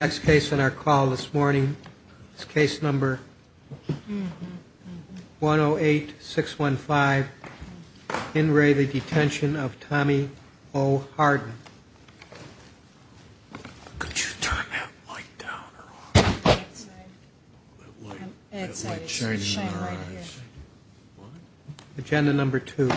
Next case on our call this morning is case number 108615 In re the Detention of Tommy O. Hardin Could you turn that light down or on? That light is shining in our eyes. Agenda number two.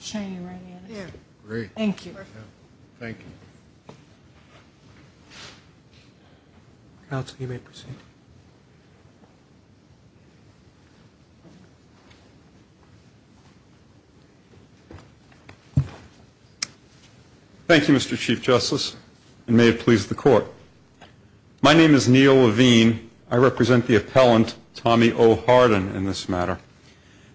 It's shining right here. Thank you. Thank you Mr. Chief Justice and may it please the court. My name is Neil Levine. I represent the appellant Tommy O. Hardin in this matter.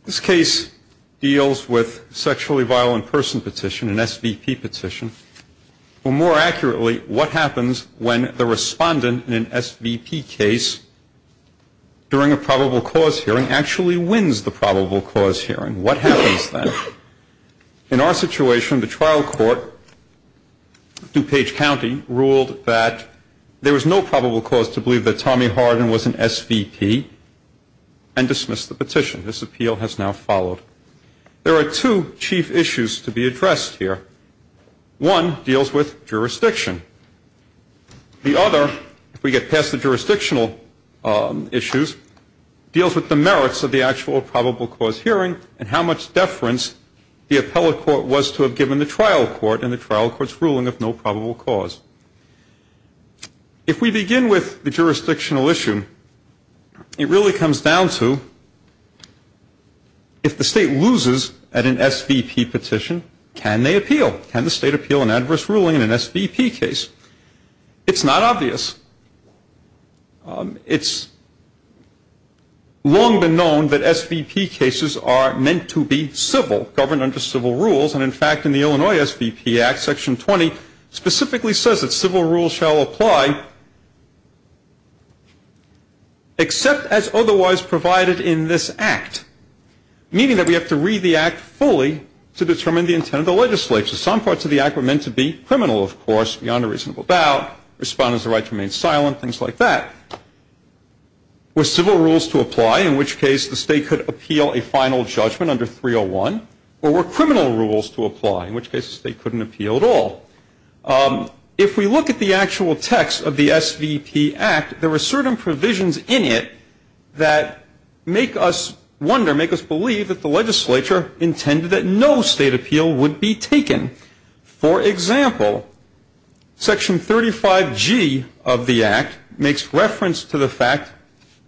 This case deals with a sexually violent person petition, an SVP petition. Or more accurately, what happens when the respondent in an SVP case during a probable cause hearing actually wins the probable cause hearing? What happens then? In our situation, the trial court, DuPage County, ruled that there was no probable cause to believe that Tommy Hardin was an SVP and dismissed the petition. This appeal has now followed. There are two chief issues to be addressed here. One deals with jurisdiction. The other, if we get past the jurisdictional issues, deals with the merits of the actual probable cause hearing and how much deference the appellate court was to have given the trial court in the trial court's ruling of no probable cause. If we begin with the jurisdictional issue it really comes down to if the state loses at an SVP petition, can they appeal? Can the state appeal an adverse ruling in an SVP case? It's not obvious. It's long been known that SVP cases are meant to be civil, governed under civil rules. And in fact, in the Illinois SVP Act, Section 20 specifically says that civil rules shall apply except as otherwise provided in this Act, meaning that we have to read the Act fully to determine the intent of the legislature. Some parts of the Act were meant to be criminal, of course, beyond a reasonable doubt. Respondents are right to remain silent, things like that. Were civil rules to apply, in which case the state could appeal a final judgment under 301? Or were criminal rules to apply, in which case the state couldn't appeal at all? If we look at the actual text of the SVP Act, there were certain provisions in it that make us wonder, make us believe that the legislature intended that no state appeal would be taken. For example, Section 35G of the Act makes reference to the fact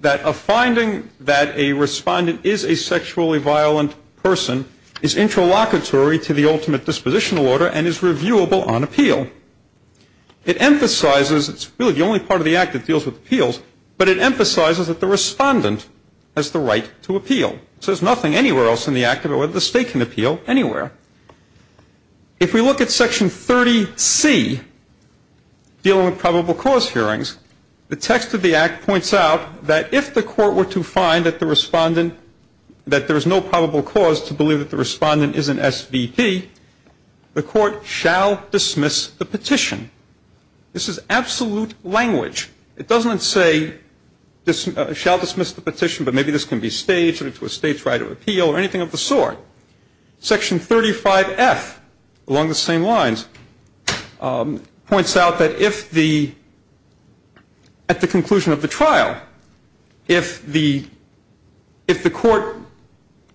that a finding that a respondent is a sexually violent person is interlocutory to the ultimate dispositional order and is reviewable on appeal. It emphasizes, it's really the only part of the Act that deals with appeals, but it emphasizes that the respondent has the right to appeal. So there's nothing anywhere else in the Act about whether the state can appeal anywhere. If we look at Section 30C, dealing with probable cause hearings, the text of the Act points out that if the court were to find that the respondent, that there's no probable cause to believe that the respondent is an SVP, the court shall dismiss the petition. This is absolute language. It doesn't say shall dismiss the petition, but maybe this can be staged or to a state's right of appeal or anything of the sort. Section 35F, along the same lines, points out that if the, at the conclusion of the trial, if the court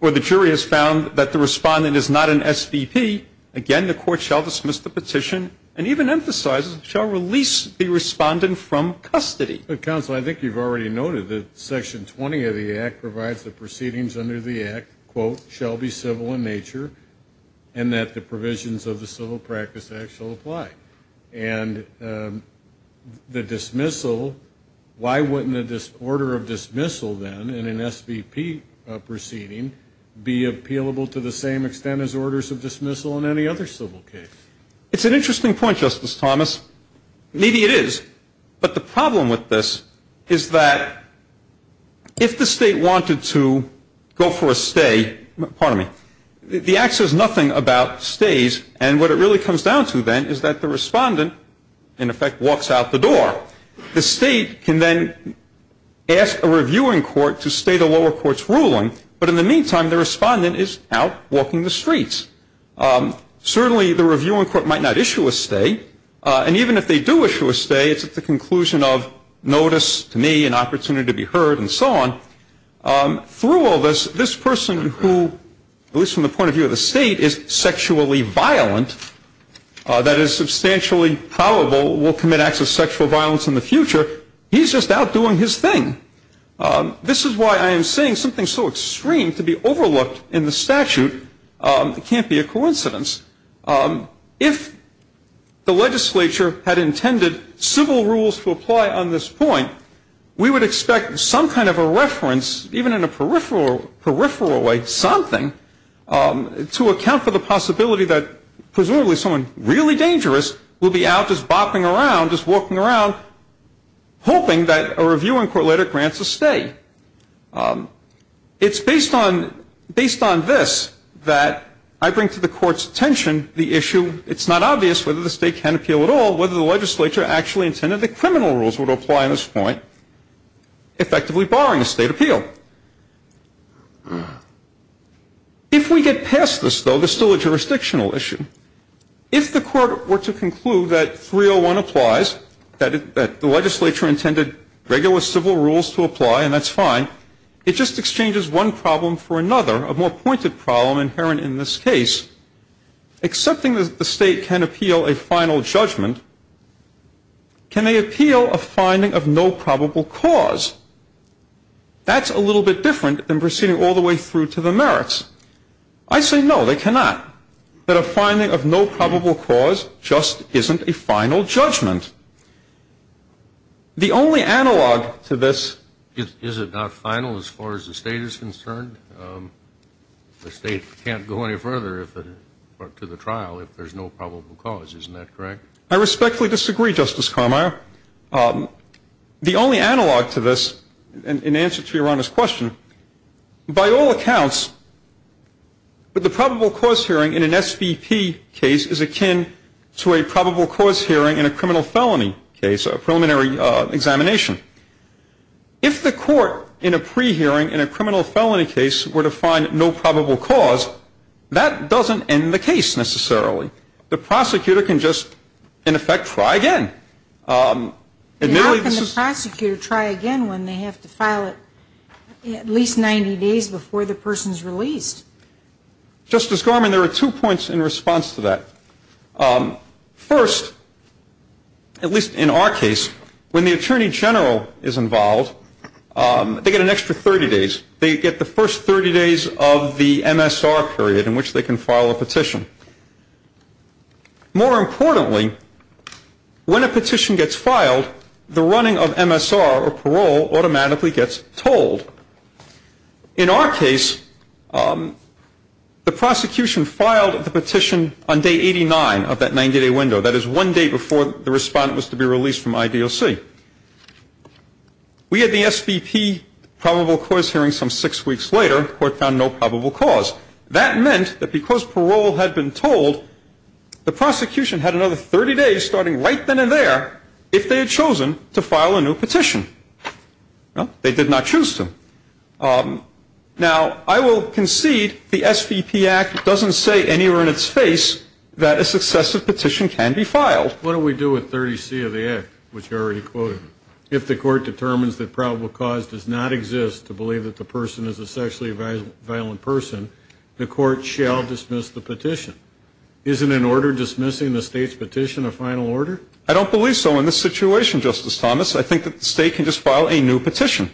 or the jury has found that the respondent is not an SVP, again, the court shall dismiss the petition and even emphasizes, shall release the respondent from custody. But counsel, I think you've already noted that Section 20 of the Act provides the proceedings under the Act, quote, shall be civil in nature and that the provisions of the Civil Practice Act shall apply. And the dismissal, why wouldn't an order of dismissal then in an SVP proceeding be appealable to the same extent as orders of dismissal in any other civil case? It's an interesting point, Justice Thomas. Maybe it is. But the problem with this is that if the state wanted to go for a stay, pardon me, the Act says nothing about stays. And what it really comes down to then is that the respondent, in effect, walks out the door. The state can then ask a reviewing court to state a lower court's ruling. But in the meantime, the respondent is out walking the streets. Certainly, the reviewing court might not issue a stay. And even if they do issue a stay, it's at the conclusion of notice to me, an opportunity to be heard, and so on. Through all this, this person who, at least from the point of view of the state, is sexually violent, that is substantially probable will commit acts of sexual violence in the future, he's just out doing his thing. This is why I am saying something so extreme to be overlooked in the statute can't be a coincidence. If the legislature had intended civil rules to apply on this point, we would expect some kind of a reference, even in a peripheral way, something, to account for the possibility that presumably someone really dangerous will be out just bopping around, just walking around, hoping that a reviewing court later grants a stay. It's based on this that I bring to the court's attention the issue, it's not obvious whether the state can appeal at all, whether the legislature actually intended that criminal rules would apply on this point, effectively barring a state appeal. If we get past this, though, there's still a jurisdictional issue. If the court were to conclude that 301 applies, that the legislature intended regular civil rules to apply, and that's fine, it just exchanges one problem for another, a more pointed problem inherent in this case. Accepting that the state can appeal a final judgment, can they appeal a finding of no probable cause? That's a little bit different than proceeding all the way through to the merits. I say no, they cannot. That a finding of no probable cause just isn't a final judgment. The only analog to this is it not final as far as the state is concerned? The state can't go any further to the trial if there's no probable cause, isn't that correct? I respectfully disagree, Justice Carmier. The only analog to this, in answer to Your Honor's question, by all accounts, the probable cause hearing in an SVP case is akin to a probable cause hearing in a criminal felony case, a preliminary examination. If the court in a pre-hearing in a criminal felony case were to find no probable cause, that doesn't end the case necessarily. The prosecutor can just, in effect, try again. Admittedly, this is How can the prosecutor try again when they have to file it at least 90 days before the person's released? Justice Gorman, there are two points in response to that. First, at least in our case, when the Attorney General is involved, they get an extra 30 days. They get the first 30 days of the MSR period in which they can file a petition. More importantly, when a petition gets filed, the running of MSR or parole automatically gets told. In our case, the prosecution filed the petition on day 89 of that 90-day window, that is one day before the respondent was to be released from IDLC. We had the SVP probable cause hearing some six weeks later. The court found no probable cause. That meant that because parole had been told, the prosecution had another 30 days starting right then and there if they had chosen to file a new petition. Well, they did not choose to. Now, I will concede the SVP Act doesn't say anywhere in its face that a successive petition can be filed. What do we do with 30C of the Act, which you already quoted? If the court determines that probable cause does not exist to believe that the person is a sexually violent person, the court shall dismiss the petition. Isn't an order dismissing the state's petition a final order? I don't believe so in this situation, Justice Thomas. I think that the state can just file a new petition.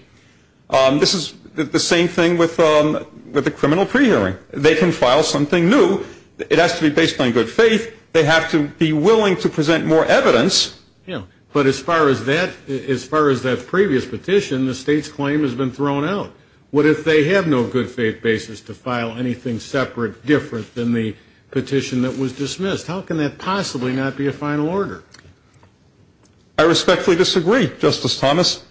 This is the same thing with the criminal pre-hearing. They can file something new. It has to be based on good faith. They have to be willing to present more evidence. But as far as that previous petition, the state's claim has been thrown out. What if they have no good faith basis to file anything separate, different than the petition that was dismissed? How can that possibly not be a final order? I respectfully disagree, Justice Thomas.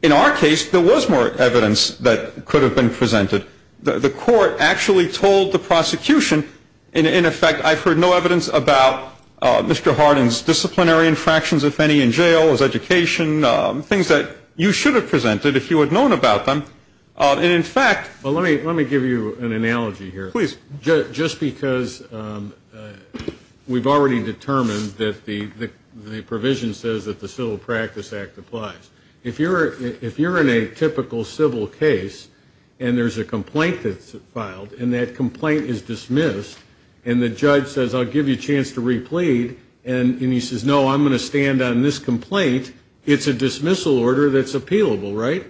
In our case, there was more evidence that could have been presented. The court actually told the prosecution. In effect, I've heard no evidence about Mr. Hardin's disciplinary infractions, if any, in jail, his education, things that you should have presented if you had known about them, and in fact- Well, let me give you an analogy here. Please. Just because we've already determined that the provision says that the Civil Practice Act applies. If you're in a typical civil case, and there's a complaint that's filed, and that complaint is dismissed, and the judge says, I'll give you a chance to replead, and he says, no, I'm going to stand on this complaint, it's a dismissal order that's appealable, right?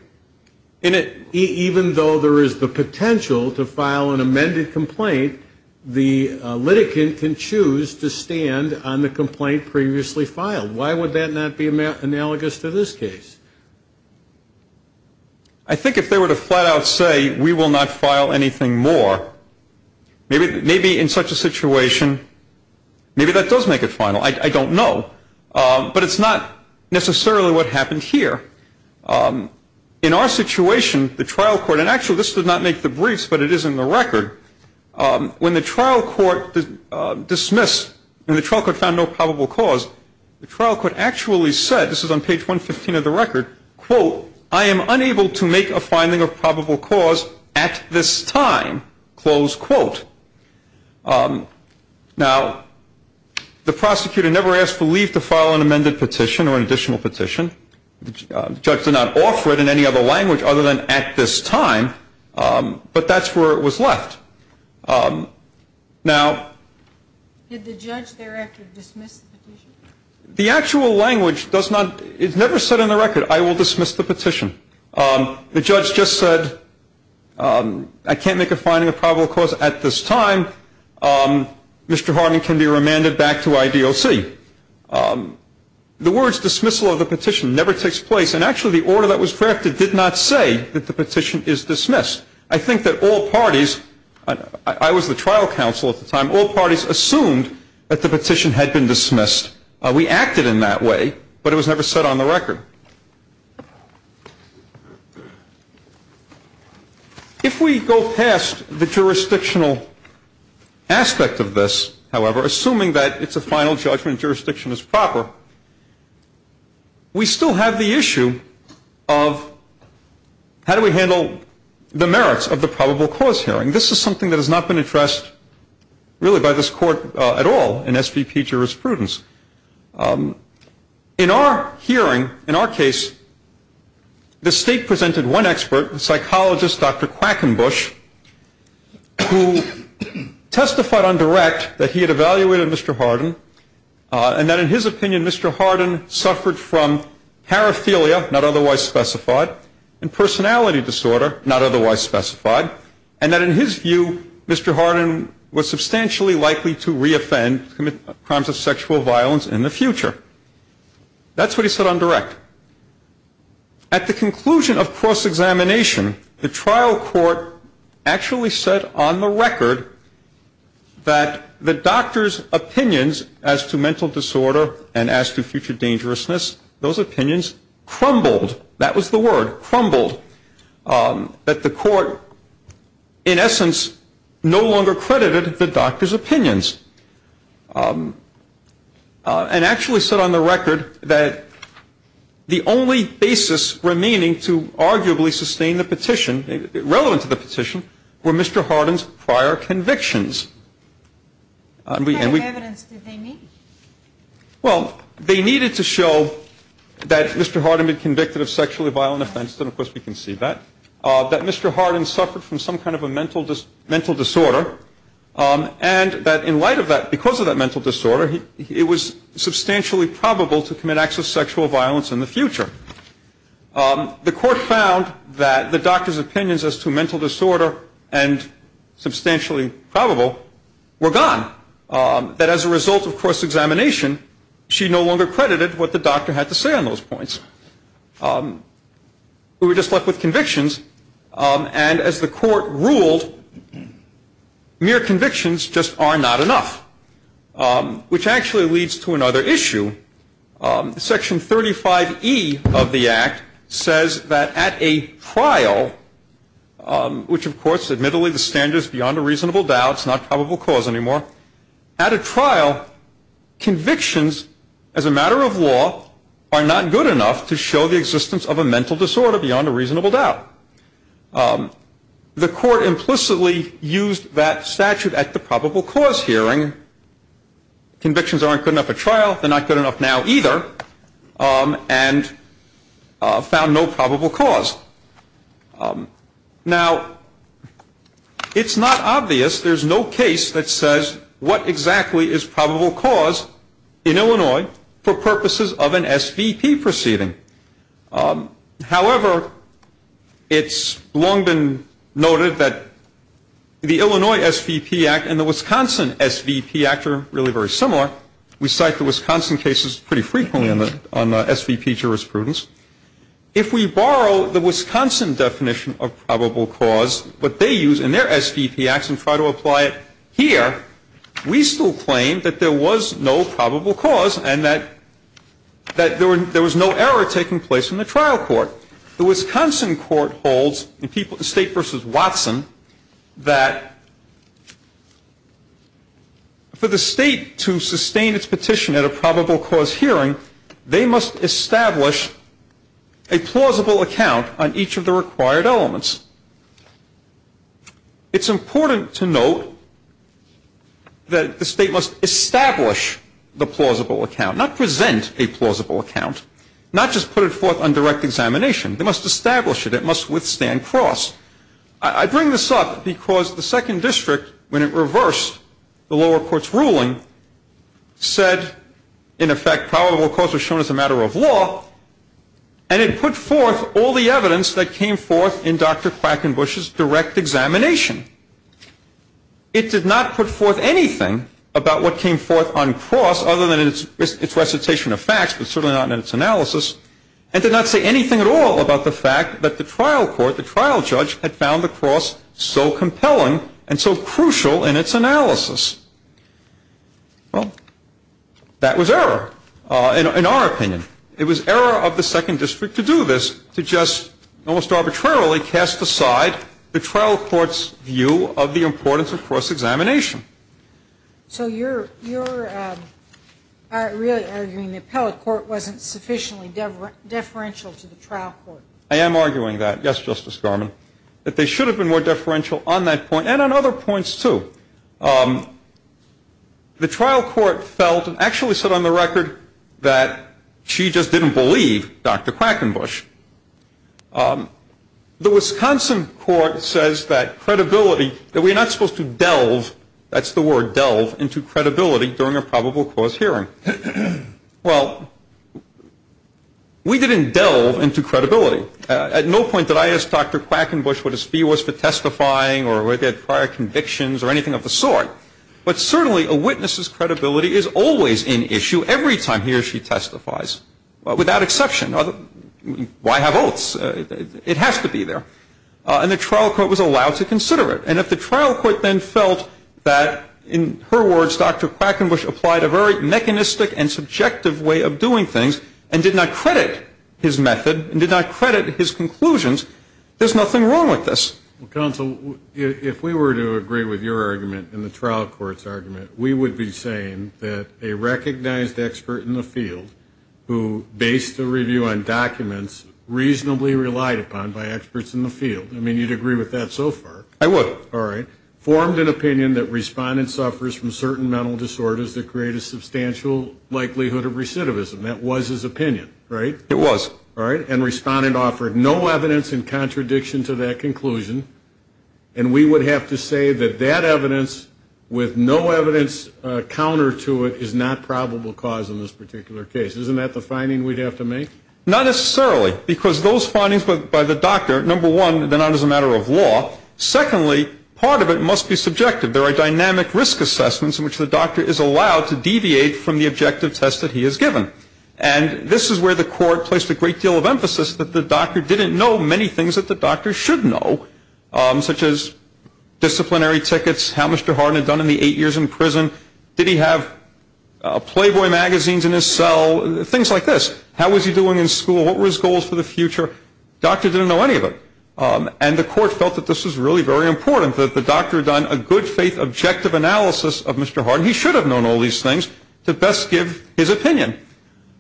And even though there is the potential to file an amended complaint, the litigant can choose to stand on the complaint previously filed. Why would that not be analogous to this case? I think if they were to flat out say, we will not file anything more, maybe in such a situation, maybe that does make it final, I don't know. But it's not necessarily what happened here. In our situation, the trial court, and actually this did not make the briefs, but it is in the record, when the trial court dismissed, when the trial court found no probable cause, the trial court actually said, this is on page 115 of the record, quote, I am unable to make a finding of probable cause at this time, close quote. Now, the prosecutor never asked for leave to file an amended petition or an additional petition. The judge did not offer it in any other language other than at this time, but that's where it was left. Now- Did the judge thereafter dismiss the petition? The actual language does not, it's never said in the record, I will dismiss the petition. The judge just said, I can't make a finding of probable cause at this time. Mr. Harding can be remanded back to IDOC. The words dismissal of the petition never takes place, and actually the order that was drafted did not say that the petition is dismissed. I think that all parties, I was the trial counsel at the time, all parties assumed that the petition had been dismissed. We acted in that way, but it was never set on the record. If we go past the jurisdictional aspect of this, however, assuming that it's a final judgment, jurisdiction is proper, we still have the issue of how do we handle the merits of the probable cause hearing? This is something that has not been addressed really by this court at all in SVP jurisprudence. In our hearing, in our case, the state presented one expert, a psychologist, Dr. Quackenbush, who testified on direct that he had evaluated Mr. Hardin, and that in his opinion, Mr. Hardin suffered from paraphilia, not otherwise specified, and personality disorder, not otherwise specified. And that in his view, Mr. Hardin was substantially likely to re-offend, commit crimes of sexual violence in the future. That's what he said on direct. At the conclusion of cross-examination, the trial court actually said on the record that the doctor's opinions as to mental disorder and as to future dangerousness, those opinions crumbled, that was the word, crumbled. That the court, in essence, no longer credited the doctor's opinions. And actually said on the record that the only basis remaining to arguably sustain the petition, relevant to the petition, were Mr. Hardin's prior convictions. And we- What kind of evidence did they need? Well, they needed to show that Mr. Hardin had been convicted of sexually violent offense. And of course, we can see that. That Mr. Hardin suffered from some kind of a mental disorder. And that in light of that, because of that mental disorder, it was substantially probable to commit acts of sexual violence in the future. The court found that the doctor's opinions as to mental disorder and substantially probable were gone. That as a result of cross-examination, she no longer credited what the doctor had to say on those points. We were just left with convictions, and as the court ruled, mere convictions just are not enough, which actually leads to another issue. Section 35E of the act says that at a trial, which of course, admittedly the standard is beyond a reasonable doubt, it's not probable cause anymore. At a trial, convictions as a matter of law are not good enough to show the existence of a mental disorder beyond a reasonable doubt. The court implicitly used that statute at the probable cause hearing. Convictions aren't good enough at trial. They're not good enough now either, and found no probable cause. Now, it's not obvious. There's no case that says what exactly is probable cause in Illinois for purposes of an SVP proceeding. However, it's long been noted that the Illinois SVP Act and the Wisconsin SVP Act are really very similar. We cite the Wisconsin cases pretty frequently on the SVP jurisprudence. If we borrow the Wisconsin definition of probable cause, what they use in their SVP acts and try to apply it here, we still claim that there was no probable cause and that there was no error taking place in the trial court. The Wisconsin court holds, the state versus Watson, that for the state to sustain its petition at a probable cause hearing, they must establish a plausible account on each of the required elements. It's important to note that the state must establish the plausible account, not present a plausible account, not just put it forth on direct examination. They must establish it. It must withstand cross. I bring this up because the second district, when it reversed the lower court's ruling, said, in effect, probable cause was shown as a matter of law. And it put forth all the evidence that came forth in Dr. Quackenbush's direct examination. It did not put forth anything about what came forth on cross, other than its recitation of facts, but certainly not in its analysis. It did not say anything at all about the fact that the trial court, the trial judge, had found the cross so compelling and so crucial in its analysis. Well, that was error, in our opinion. It was error of the second district to do this, to just almost arbitrarily cast aside the trial court's view of the importance of cross-examination. So you're really arguing the appellate court wasn't sufficiently deferential to the trial court? I am arguing that, yes, Justice Garmon. That they should have been more deferential on that point, and on other points, too. The trial court felt, and actually said on the record, that she just didn't believe Dr. Quackenbush. The Wisconsin court says that credibility, that we're not supposed to delve, that's the word delve, into credibility during a probable cause hearing. Well, we didn't delve into credibility. At no point did I ask Dr. Quackenbush what his fee was for testifying, or whether he had prior convictions, or anything of the sort. But certainly, a witness's credibility is always in issue every time he or she testifies, without exception. Why have oaths? It has to be there. And the trial court was allowed to consider it. And if the trial court then felt that, in her words, Dr. Quackenbush applied a very mechanistic and subjective way of doing things, and did not credit his method, and did not credit his conclusions, there's nothing wrong with this. Well, counsel, if we were to agree with your argument and the trial court's argument, we would be saying that a recognized expert in the field, who based a review on documents, reasonably relied upon by experts in the field. I mean, you'd agree with that so far. I would. All right. Formed an opinion that respondent suffers from certain mental disorders that create a substantial likelihood of recidivism. That was his opinion, right? It was. All right. And respondent offered no evidence in contradiction to that conclusion, and we would have to say that that evidence, with no evidence counter to it, is not probable cause in this particular case. Isn't that the finding we'd have to make? Not necessarily, because those findings by the doctor, number one, they're not as a matter of law. Secondly, part of it must be subjective. There are dynamic risk assessments in which the doctor is allowed to deviate from the objective test that he has given. And this is where the court placed a great deal of emphasis, that the doctor didn't know many things that the doctor should know, such as disciplinary tickets, how Mr. Hardin had done in the eight years in prison. Did he have Playboy magazines in his cell? Things like this. How was he doing in school? What were his goals for the future? Doctor didn't know any of it. And the court felt that this was really very important, that the doctor had done a good faith objective analysis of Mr. Hardin. He should have known all these things to best give his opinion.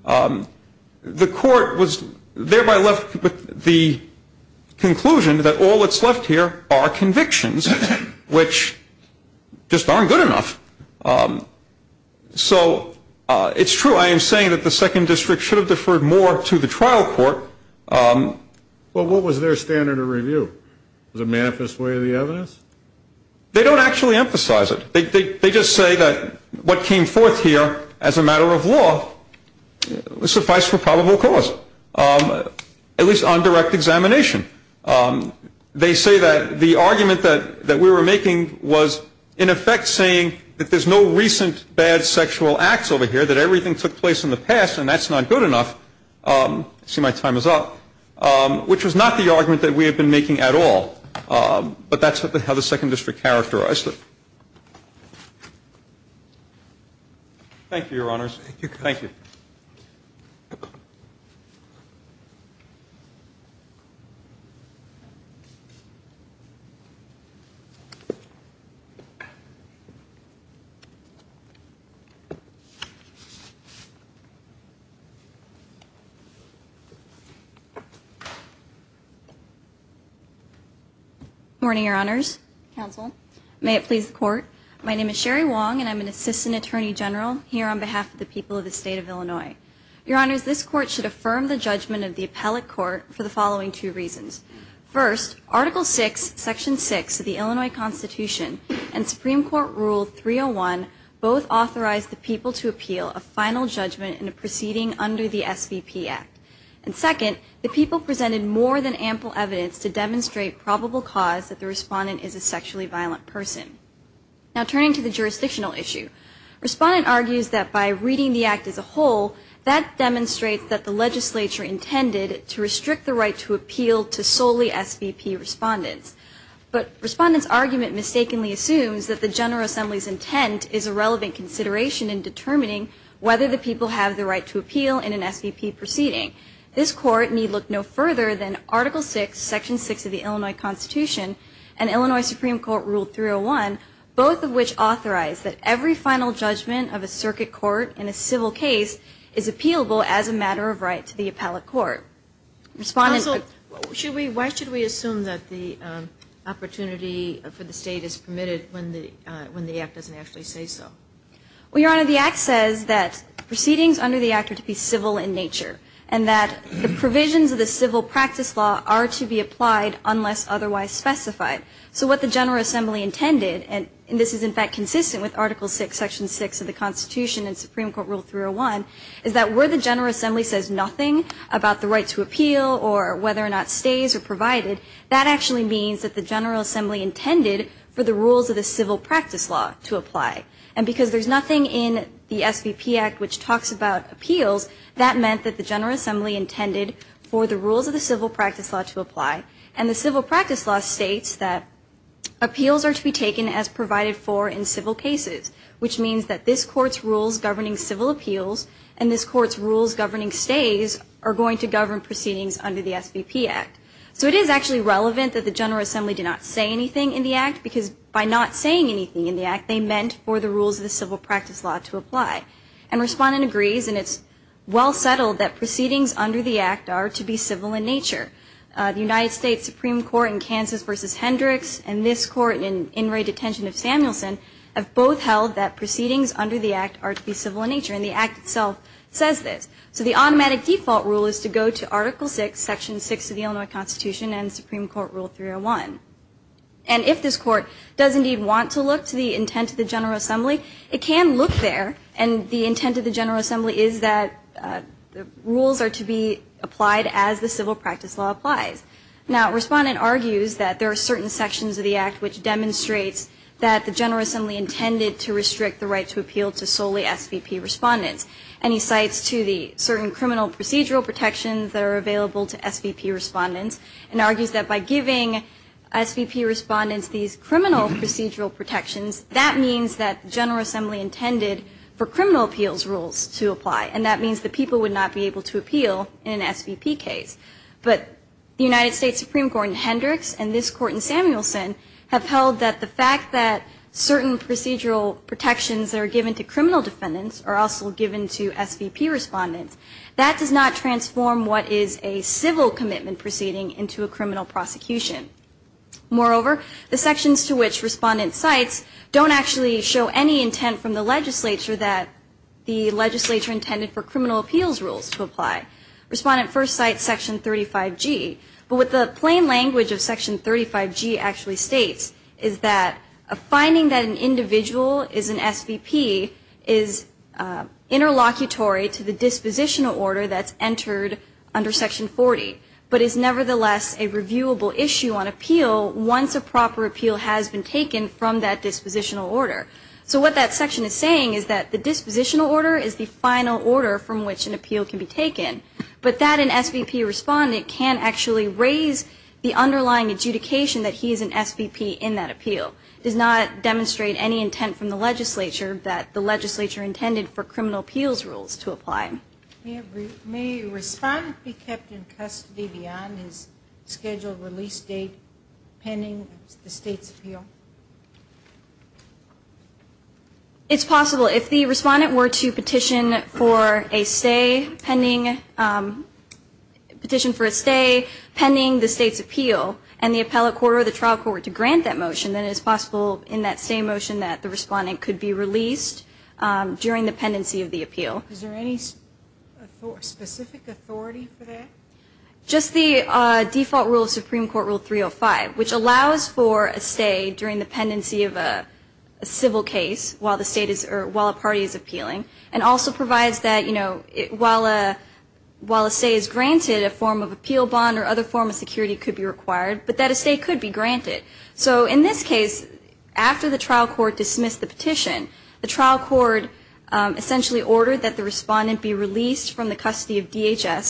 The court was thereby left with the conclusion that all that's left here are convictions, which just aren't good enough. So it's true, I am saying that the second district should have deferred more to the trial court. Well, what was their standard of review? The manifest way of the evidence? They don't actually emphasize it. They just say that what came forth here as a matter of law, was suffice for probable cause, at least on direct examination. They say that the argument that we were making was, in effect, saying that there's no recent bad sexual acts over here, that everything took place in the past, and that's not good enough. See, my time is up, which was not the argument that we had been making at all. But that's how the second district characterized it. Thank you, your honors. Thank you. Thank you. Morning, your honors. Counsel. May it please the court. My name is Sherry Wong, and I'm an assistant attorney general here on behalf of the people of the state of Illinois. Your honors, this court should affirm the judgment of the appellate court for the following two reasons. First, Article 6, Section 6 of the Illinois Constitution and Supreme Court Rule 301 both authorize the people to appeal a final judgment in a proceeding under the SVP Act. And second, the people presented more than ample evidence to demonstrate probable cause that the respondent is a sexually violent person. Now, turning to the jurisdictional issue. Respondent argues that by reading the act as a whole, that demonstrates that the legislature intended to restrict the right to appeal to solely SVP respondents, but respondent's argument mistakenly assumes that the General Assembly's intent is a relevant consideration in determining whether the people have the right to appeal in an SVP proceeding. This court need look no further than Article 6, Section 6 of the Illinois Constitution and Illinois Supreme Court Rule 301, both of which authorize that every final judgment of a circuit court in a civil case is appealable as a matter of right to the appellate court. Respondent- Why should we assume that the opportunity for the state is permitted when the act doesn't actually say so? Well, your honor, the act says that proceedings under the act are to be civil in nature, and that the provisions of the civil practice law are to be applied unless otherwise specified. So what the General Assembly intended, and this is in fact consistent with Article 6, Section 6 of the Constitution and Supreme Court Rule 301, is that where the General Assembly says nothing about the right to appeal or whether or not stays are provided, that actually means that the General Assembly intended for the rules of the civil practice law to apply. And because there's nothing in the SVP Act which talks about appeals, that meant that the General Assembly intended for the rules of the civil practice law to apply. And the civil practice law states that appeals are to be taken as provided for in civil cases, which means that this Court's rules governing civil appeals and this Court's rules governing stays are going to govern proceedings under the SVP Act. So it is actually relevant that the General Assembly did not say anything in the act, because by not saying anything in the act, they meant for the rules of the civil practice law to apply. And Respondent agrees, and it's well settled that proceedings under the act are to be civil in nature. The United States Supreme Court in Kansas v. Hendricks and this Court in in-rate detention of Samuelson have both held that proceedings under the act are to be civil in nature, and the act itself says this. So the automatic default rule is to go to Article 6, Section 6 of the Illinois Constitution and Supreme Court Rule 301. And if this Court does indeed want to look to the intent of the General Assembly, it can look there, and the intent of the General Assembly is that the rules are to be applied as the civil practice law applies. Now, Respondent argues that there are certain sections of the act which demonstrates that the General Assembly intended to restrict the right to appeal to solely SVP respondents. And he cites to the certain criminal procedural protections that are available to SVP respondents, and argues that by giving SVP respondents these criminal procedural protections, that means that the General Assembly intended for criminal appeals rules to apply, and that means that people would not be able to appeal in an SVP case. But the United States Supreme Court in Hendricks and this Court in Samuelson have held that the fact that certain procedural protections that are given to criminal defendants are also given to SVP respondents, that does not transform what is a civil commitment proceeding into a criminal prosecution. Moreover, the sections to which Respondent cites don't actually show any intent from the legislature that the legislature intended for criminal appeals rules to apply. Respondent first cites Section 35G, but what the plain language of Section 35G actually states is that a finding that an individual is an SVP is interlocutory to the dispositional order that's entered under Section 40, but is nevertheless a reviewable issue on appeal once a proper appeal has been entered under a dispositional order. So what that section is saying is that the dispositional order is the final order from which an appeal can be taken, but that an SVP respondent can actually raise the underlying adjudication that he is an SVP in that appeal. It does not demonstrate any intent from the legislature that the legislature intended for criminal appeals rules to apply. May Respondent be kept in custody beyond his scheduled release date pending the State's appeal? It's possible. If the Respondent were to petition for a stay pending a petition for a stay pending the State's appeal and the appellate court or the trial court to grant that motion, then it is possible in that stay motion that the Respondent could be released during the pendency of the appeal. Is there any specific authority for that? Just the default rule of Supreme Court Rule 305, which allows for a stay during the pendency of a civil case while a party is appealing and also provides that while a stay is granted, a form of appeal bond or other form of security could be required, but that a stay could be granted. So in this case, after the trial court dismissed the petition, the trial court essentially ordered that the Respondent be released from the custody of DHS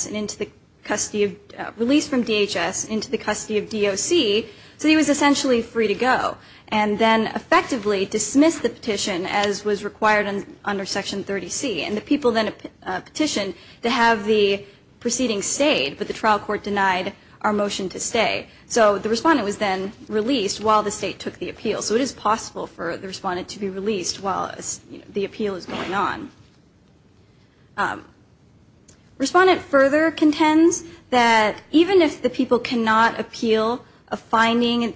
released from DHS into the custody of DOC so he was essentially free to go and then effectively dismiss the petition as was required under Section 30C. And the people then petitioned to have the proceeding stayed, but the trial court denied our motion to stay. So the Respondent was then released while the State took the appeal. So it is what's going on. Respondent further contends that even if the people cannot appeal a finding,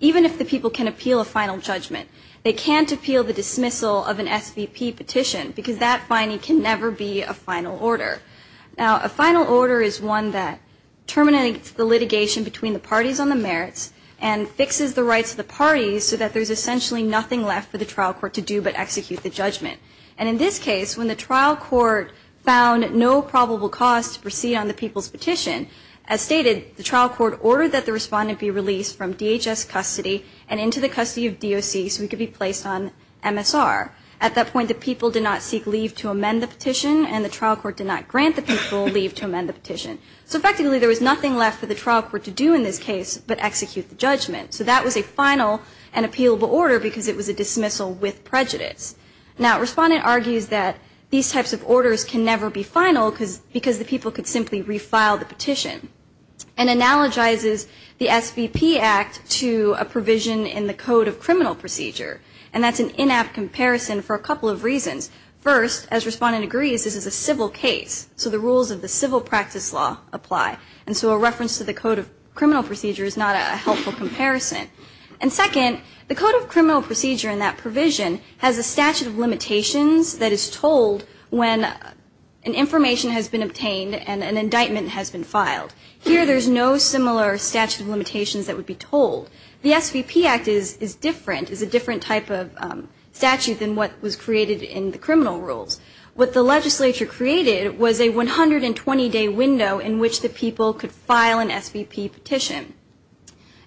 even if the people can appeal a final judgment, they can't appeal the dismissal of an SVP petition because that finding can never be a final order. Now, a final order is one that terminates the litigation between the parties on the merits and fixes the rights of the parties so that there's essentially nothing left for the trial court to do in this case but execute the judgment. And in this case, when the trial court found no probable cause to proceed on the people's petition, as stated, the trial court ordered that the Respondent be released from DHS custody and into the custody of DOC so he could be placed on MSR. At that point, the people did not seek leave to amend the petition and the trial court did not grant the people leave to amend the petition. So effectively, there was nothing left for the trial court to do in this case but execute the judgment. So that was a final and appealable order because it was a dismissal with prejudice. Now, Respondent argues that these types of orders can never be final because the people could simply re-file the petition. And analogizes the SVP Act to a provision in the Code of Criminal Procedure. And that's an in-app comparison for a couple of reasons. First, as Respondent agrees, this is a civil case, so the rules of the civil practice law apply. And so a reference to the Code of Criminal Procedure is not a helpful comparison. And second, the Code of Criminal Procedure in that provision has a statute of limitations that is told when an information has been obtained and an indictment has been filed. Here, there's no similar statute of limitations that would be told. The SVP Act is different, is a different type of statute than what was created in the criminal rules. What the legislature created was a 120-day window in which the people could file an SVP petition.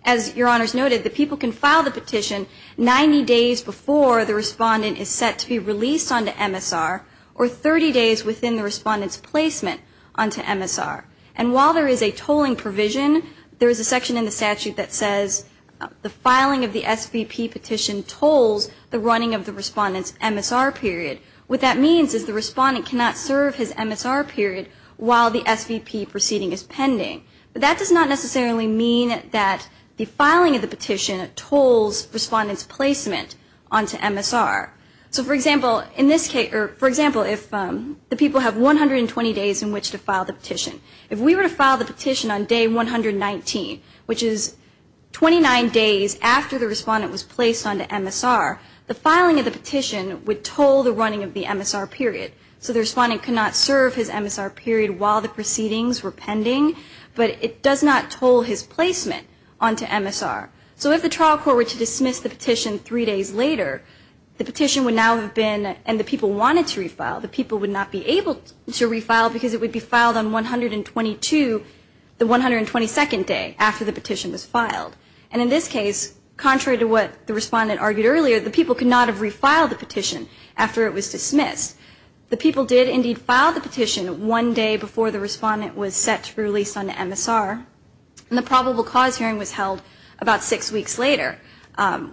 As Your Honors noted, the people can file the petition 90 days before the Respondent is set to be released onto MSR, or 30 days within the Respondent's placement onto MSR. And while there is a tolling provision, there is a section in the statute that says the filing of the SVP petition tolls the running of the Respondent's MSR period. What that means is the Respondent cannot serve his MSR period while the SVP proceeding is pending. But that does not necessarily mean that the filing of the petition tolls Respondent's placement onto MSR. So for example, in this case, for example, if the people have 120 days in which to file the petition, if we were to file the petition on day 119, which is 29 days after the Respondent was placed onto MSR, the filing of the petition would toll the running of the MSR period. So the Respondent could not serve his MSR period while the proceedings were pending, but it does not toll his placement onto MSR. So if the trial court were to dismiss the petition three days later, the petition would now have been, and the people wanted to refile, the people would not be able to refile because it would be filed on 122, the 122nd day after the petition was filed. And in this case, contrary to what the Respondent argued earlier, the people could not have refiled the petition after it was dismissed. The people did indeed file the petition one day before the Respondent was set to be released onto MSR, and the probable cause hearing was held about six weeks later,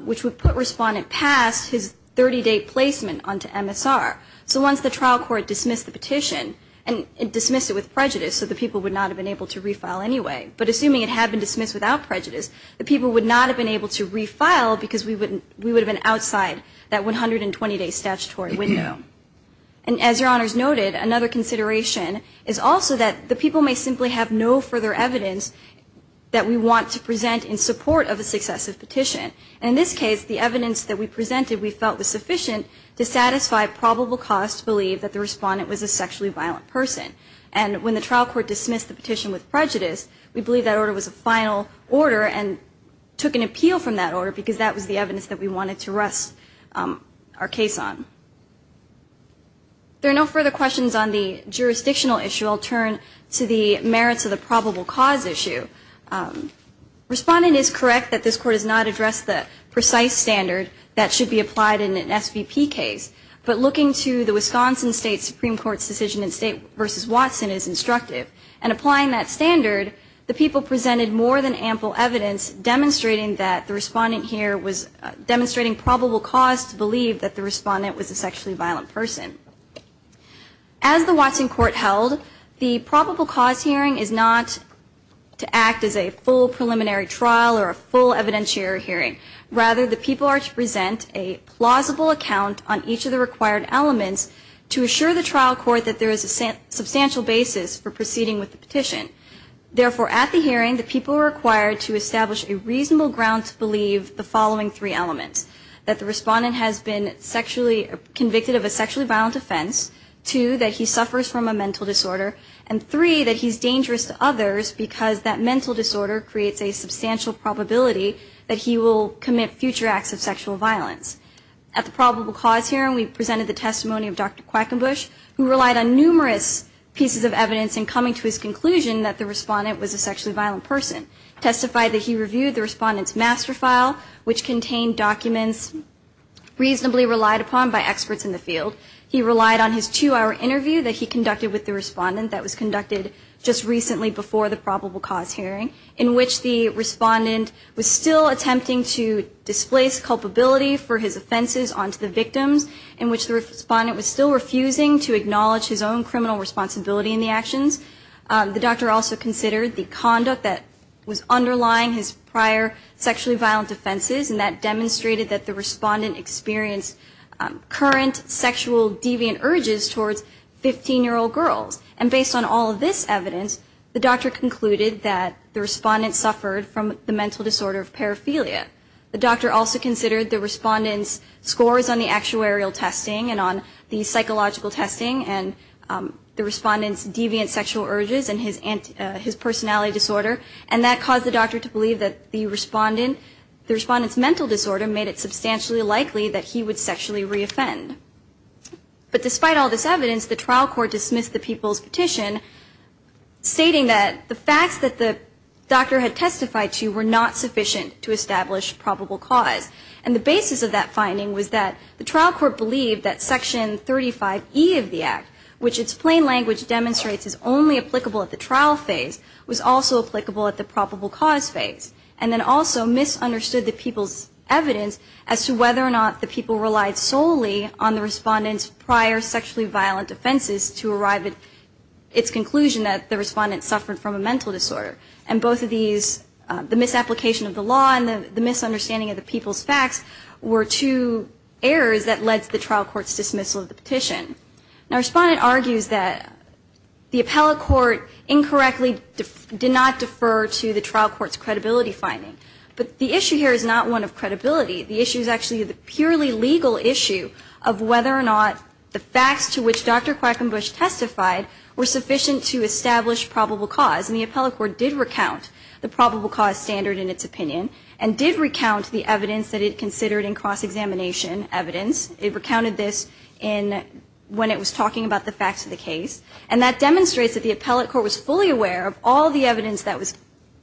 which would put Respondent past his 30-day placement onto MSR. So once the trial court dismissed the petition, and dismissed it with prejudice, so the people would not have been able to refile anyway, but assuming it had been dismissed without prejudice, the people would not have been able to refile because we would have been outside that 120-day statutory window. And as Your Honors noted, another consideration is also that the people may simply have no further evidence that we want to present in support of a successive petition. In this case, the evidence that we presented we felt was sufficient to satisfy probable cause to believe that the Respondent was a sexually violent person. And when the trial court dismissed the petition with prejudice, we believe that order was a final order and took an appeal from that order because that was the evidence that we wanted to rest our case on. There are no further questions on the jurisdictional issue. I'll turn to the merits of the probable cause issue. Respondent is correct that this Court has not addressed the precise standard that should be applied in an SVP case, but looking to the Wisconsin State Supreme Court's decision in State v. Watson is instructive. And applying that standard, the people presented more than ample evidence demonstrating that the Respondent here was demonstrating probable cause to believe that the Respondent was a sexually violent person. As the Watson Court held, the probable cause hearing is not to act as a full preliminary trial or a full evidentiary hearing. Rather, the people are to present a plausible account on each of the required elements to assure the trial court that there is a substantial basis for proceeding with the petition. Therefore, at the hearing, the people are required to establish a reasonable ground to believe the following three elements. That the Respondent has been sexually convicted of a sexually violent offense. Two, that he suffers from a mental disorder. And three, that he's dangerous to others because that mental disorder creates a substantial probability that he will commit future acts of sexual violence. At the probable cause hearing, we presented the testimony of Dr. Quackenbush, who relied on numerous pieces of evidence in coming to his conclusion that the Respondent was a sexually violent person. Testified that he reviewed the Respondent's master file, which contained documents reasonably relied upon by experts in the field. He relied on his two-hour interview that he conducted with the Respondent that was conducted just recently before the probable cause hearing, in which the Respondent was still attempting to displace culpability for his offenses onto the victims, in which the Respondent was still refusing to acknowledge his own criminal responsibility in the actions. The doctor also considered the conduct that was underlying his prior sexually violent offenses, and that demonstrated that the Respondent experienced current sexual deviant urges towards fifteen-year-old girls. And based on all of this evidence, the doctor concluded that the Respondent suffered from the mental disorder of paraphilia. The doctor also considered the Respondent's scores on the actuarial testing and on the psychological testing and the Respondent's deviant sexual urges and his personality disorder. And that caused the doctor to believe that the Respondent, the Respondent's mental disorder, made it substantially likely that he would sexually re-offend. But despite all this evidence, the trial court dismissed the people's petition stating that the facts that the doctor had testified to were not sufficient to establish probable cause. And the basis of that finding was that the trial court believed that Section 35E of the Act, which its plain language demonstrates is only applicable at the trial phase, was also applicable at the probable cause phase. And then also misunderstood the people's evidence as to whether or not the people relied solely on the Respondent's prior sexually violent offenses to arrive at its conclusion that the Respondent suffered from a mental disorder. And both of these, the misapplication of the law and the misunderstanding of the people's facts were two errors that led to the trial court's dismissal of the petition. Now, Respondent argues that the appellate court incorrectly did not defer to the trial court's credibility finding. But the issue here is not one of credibility. The issue is actually the purely legal issue of whether or not the facts to which Dr. Quackenbush testified were sufficient to establish probable cause. And the appellate court did recount the probable cause standard in its opinion and did recount the evidence that it considered in cross-examination evidence. It recounted this when it was talking about the facts of the case. And that demonstrates that the appellate court was fully aware of all the evidence that was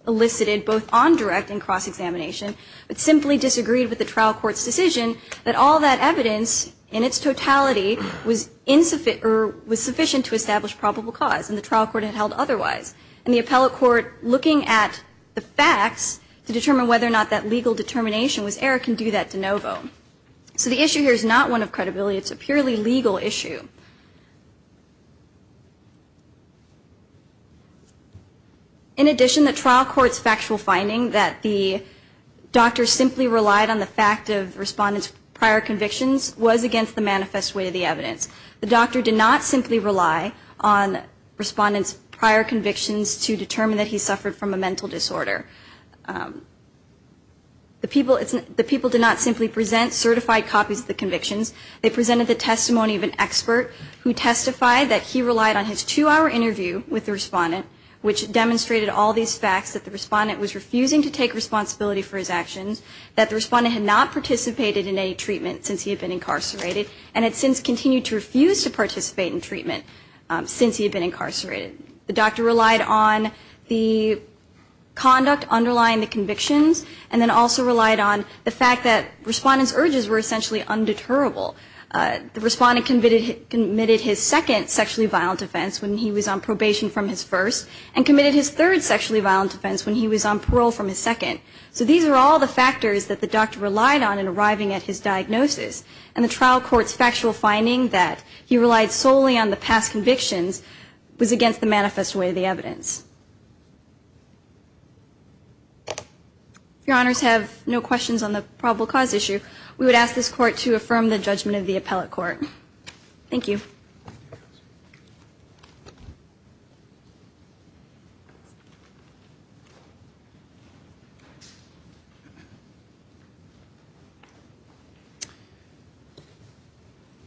elicited both on direct and cross-examination, but simply disagreed with the trial court's decision that all that evidence in its totality was sufficient to establish probable cause, and the trial court had held otherwise. And the appellate court, looking at the facts to determine whether or not that legal determination was error, can do that de novo. So the issue here is not one of credibility. It's a purely legal issue. In addition, the trial court's factual finding that the doctor simply relied on the fact of the respondent's prior convictions was against the manifest way of the evidence. The doctor did not simply rely on the respondent's prior convictions to determine that he suffered from a mental disorder. The people did not simply present certified copies of the convictions. They presented the testimony of an expert who testified that he relied on his two-hour interview with the respondent, which demonstrated all these facts that the respondent was refusing to take responsibility for his actions, that the respondent had not participated in any treatment since he had been incarcerated, and had since continued to refuse to participate in treatment The doctor relied on the conduct of the trial court The doctor relied on the conduct underlying the convictions, and then also relied on the fact that the respondent's urges were essentially undeterrable. The respondent committed his second sexually violent offense when he was on probation from his first, and committed his third sexually violent offense when he was on parole from his second. So these are all the factors that the doctor relied on in arriving at his diagnosis. And the trial court's factual finding that he relied solely on the past convictions was against the manifest way of the evidence. If your honors have no questions on the probable cause issue, we would ask this court to affirm the judgment of the appellate court. Thank you.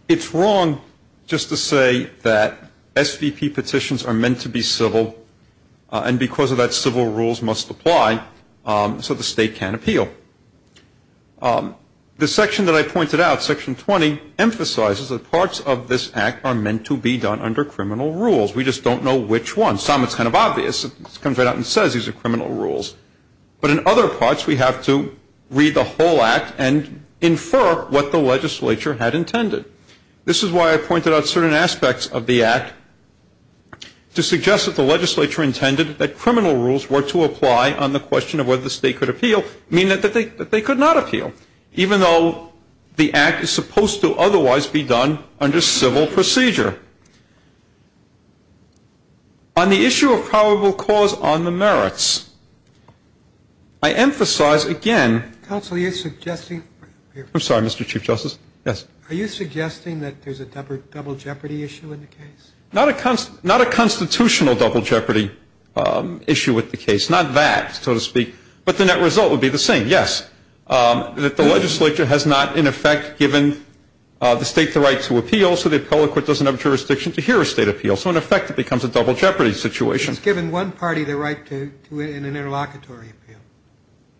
It's wrong just to say that SVP petitions are meant to be civil and because of that civil rules must apply so the state can appeal. The section that I pointed out, section 20, emphasizes that parts of this act are meant to be done under criminal rules. We just don't know which ones. Some it's kind of obvious. It comes right out and says these are criminal rules. But in other parts we have to read the whole act and infer what the legislature had intended. This is why I pointed out certain aspects of the act to suggest that the legislature intended that criminal rules were to apply on the question of whether the state could appeal, meaning that they could not appeal, even though the act is supposed to otherwise be done under civil procedure. On the issue of probable cause on the merits, I emphasize again... Counsel, you're suggesting... I'm sorry, Mr. Chief Justice. Are you suggesting that there's a double jeopardy issue in the case? Not a constitutional double jeopardy issue with the case. Not that, so to speak. But the net result would be the same, yes. That the legislature has not, in effect, given the state the right to appeal so the appellate court doesn't have jurisdiction to hear a state appeal. So in effect it becomes a double jeopardy situation. It's given one party the right to appeal in an interlocutory appeal.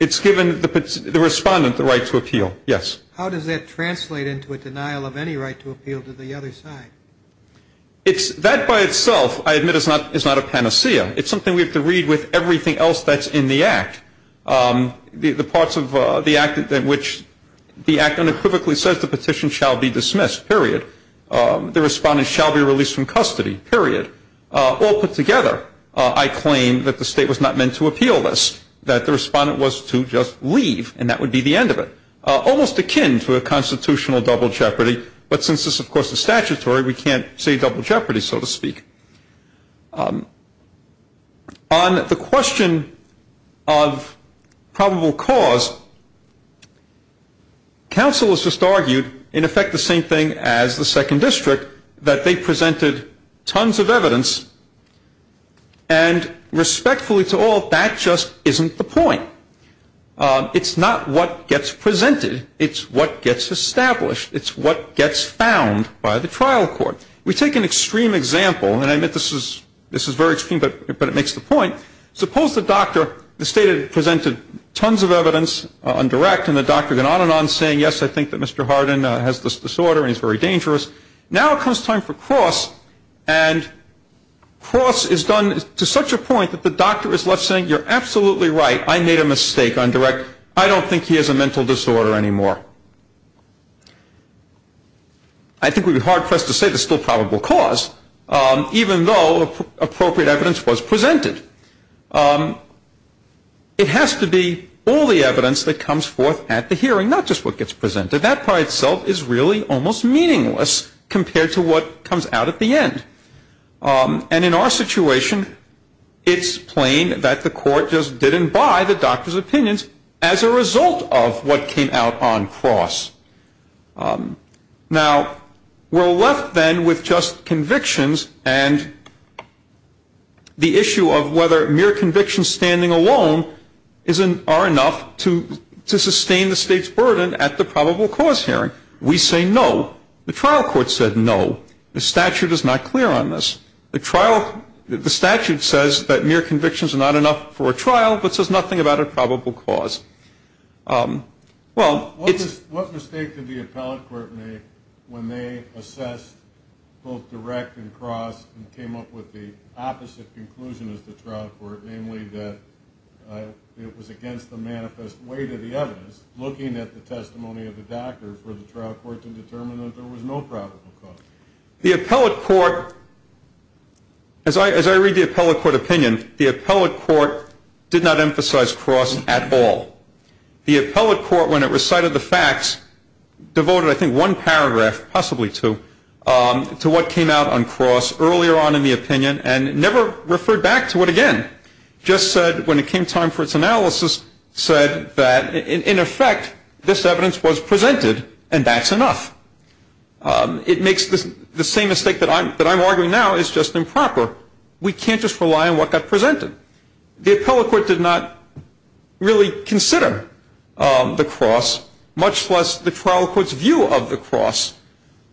It's given the respondent the right to appeal, yes. How does that translate into a denial of any right to appeal to the other side? That by itself, I admit, is not a panacea. It's something we have to read with everything else that's in the act. The parts of the act in which the act unequivocally says the petition shall be dismissed, period. The respondent shall be released from custody, period. All put together, I claim that the state was not meant to appeal this. That the respondent was to just leave, and that would be the end of it. Almost akin to a constitutional double jeopardy, but since this, of course, is statutory, we can't say double jeopardy, so to speak. On the question of probable cause, counsel has just argued, in effect, the same thing as the Second District, that they presented tons of evidence, and respectfully to all, that just isn't the point. It's not what gets presented, it's what gets established. It's what gets found by the trial court. We take an extreme example, and I admit this is very extreme, but it makes the point. Suppose the state had presented tons of evidence on direct, and the doctor had gone on and on saying, yes, I think that Mr. Hardin has this disorder, and he's very dangerous. Now comes time for cross, and cross is done to such a point that the doctor is left saying, you're absolutely right, I made a mistake on direct. I don't think he has a mental disorder anymore. I think we'd be hard pressed to say there's still probable cause, even though appropriate evidence was presented. It has to be all the evidence that comes forth at the hearing, not just what gets presented. That by itself is really almost meaningless compared to what comes out at the end. And in our situation, it's plain that the court just didn't buy the doctor's opinions as a result of what came out on cross. Now, we're left then with just convictions, and the issue of whether mere convictions standing alone are enough to sustain the state's burden at the probable cause hearing. We say no. The trial court said no. The statute is not clear on this. The statute says that mere convictions are not enough for a trial, but says nothing about a probable cause. Well, it's- What mistake did the appellate court make when they assessed both direct and cross and came up with the opposite conclusion as the trial court, namely that it was against the manifest weight of the evidence, looking at the testimony of the doctor for the trial court to determine that there was no probable cause? The appellate court, as I read the appellate court opinion, the appellate court did not emphasize cross at all. The appellate court, when it recited the facts, devoted I think one paragraph, possibly two, to what came out on cross earlier on in the opinion and never referred back to it again. Just said, when it came time for its analysis, said that, in effect, this evidence was presented and that's enough. It makes the same mistake that I'm arguing now is just improper. We can't just rely on what got presented. The appellate court did not really consider the cross, much less the trial court's view of the cross.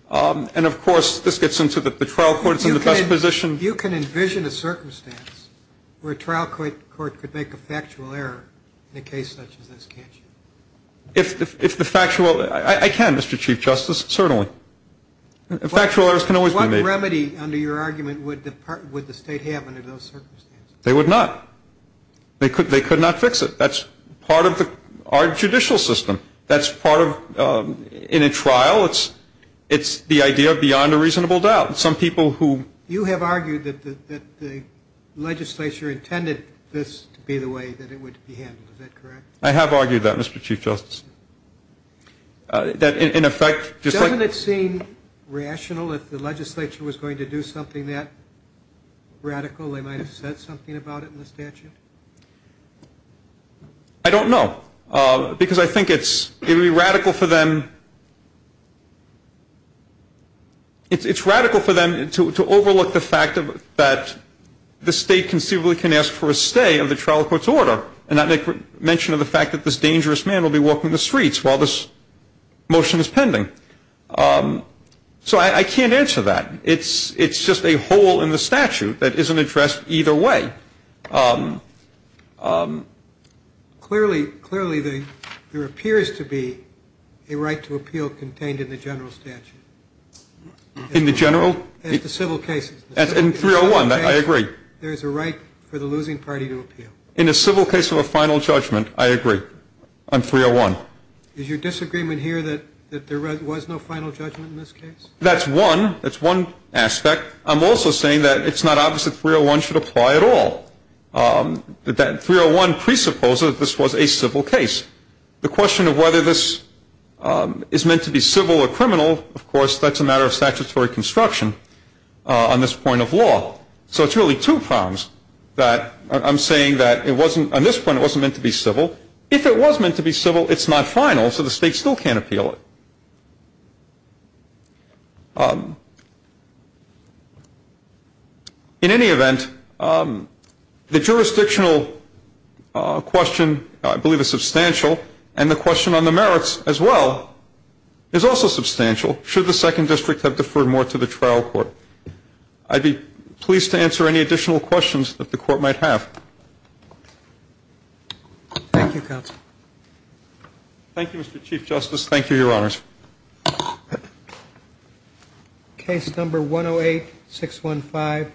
And of course, this gets into the trial court's in the best position. You can envision a circumstance where a trial court could make a factual error in a case such as this, can't you? If the factual, I can, Mr. Chief Justice, certainly. Factual errors can always be made. What remedy, under your argument, would the state have under those circumstances? They would not. They could not fix it. That's part of our judicial system. That's part of, in a trial, it's the idea of beyond a reasonable doubt. Some people who- You have argued that the legislature intended this to be the way that it would be handled. Is that correct? I have argued that, Mr. Chief Justice. That, in effect, just like- Doesn't it seem rational if the legislature was going to do something that radical? They might have said something about it in the statute. I don't know. Because I think it's, it would be radical for them. It's radical for them to overlook the fact that the state conceivably can ask for a stay of the trial court's order, and not mention of the fact that this dangerous man will be walking the streets while this motion is pending. So I can't answer that. It's just a hole in the statute that isn't addressed either way. Clearly, there appears to be a right to appeal contained in the general statute. In the general? As the civil cases. As in 301, I agree. There's a right for the losing party to appeal. In a civil case of a final judgment, I agree on 301. Is your disagreement here that there was no final judgment in this case? That's one, that's one aspect. I'm also saying that it's not obvious that 301 should apply at all. That 301 presupposes this was a civil case. The question of whether this is meant to be civil or criminal, of course, that's a matter of statutory construction on this point of law. So it's really two problems that I'm saying that it wasn't, on this point it wasn't meant to be civil. If it was meant to be civil, it's not final, so the state still can't appeal it. In any event, the jurisdictional question, I believe, is substantial. And the question on the merits, as well, is also substantial. Should the second district have deferred more to the trial court? I'd be pleased to answer any additional questions that the court might have. Thank you, counsel. Thank you, Mr. Chief Justice. Thank you, your honors. Case number 108-615.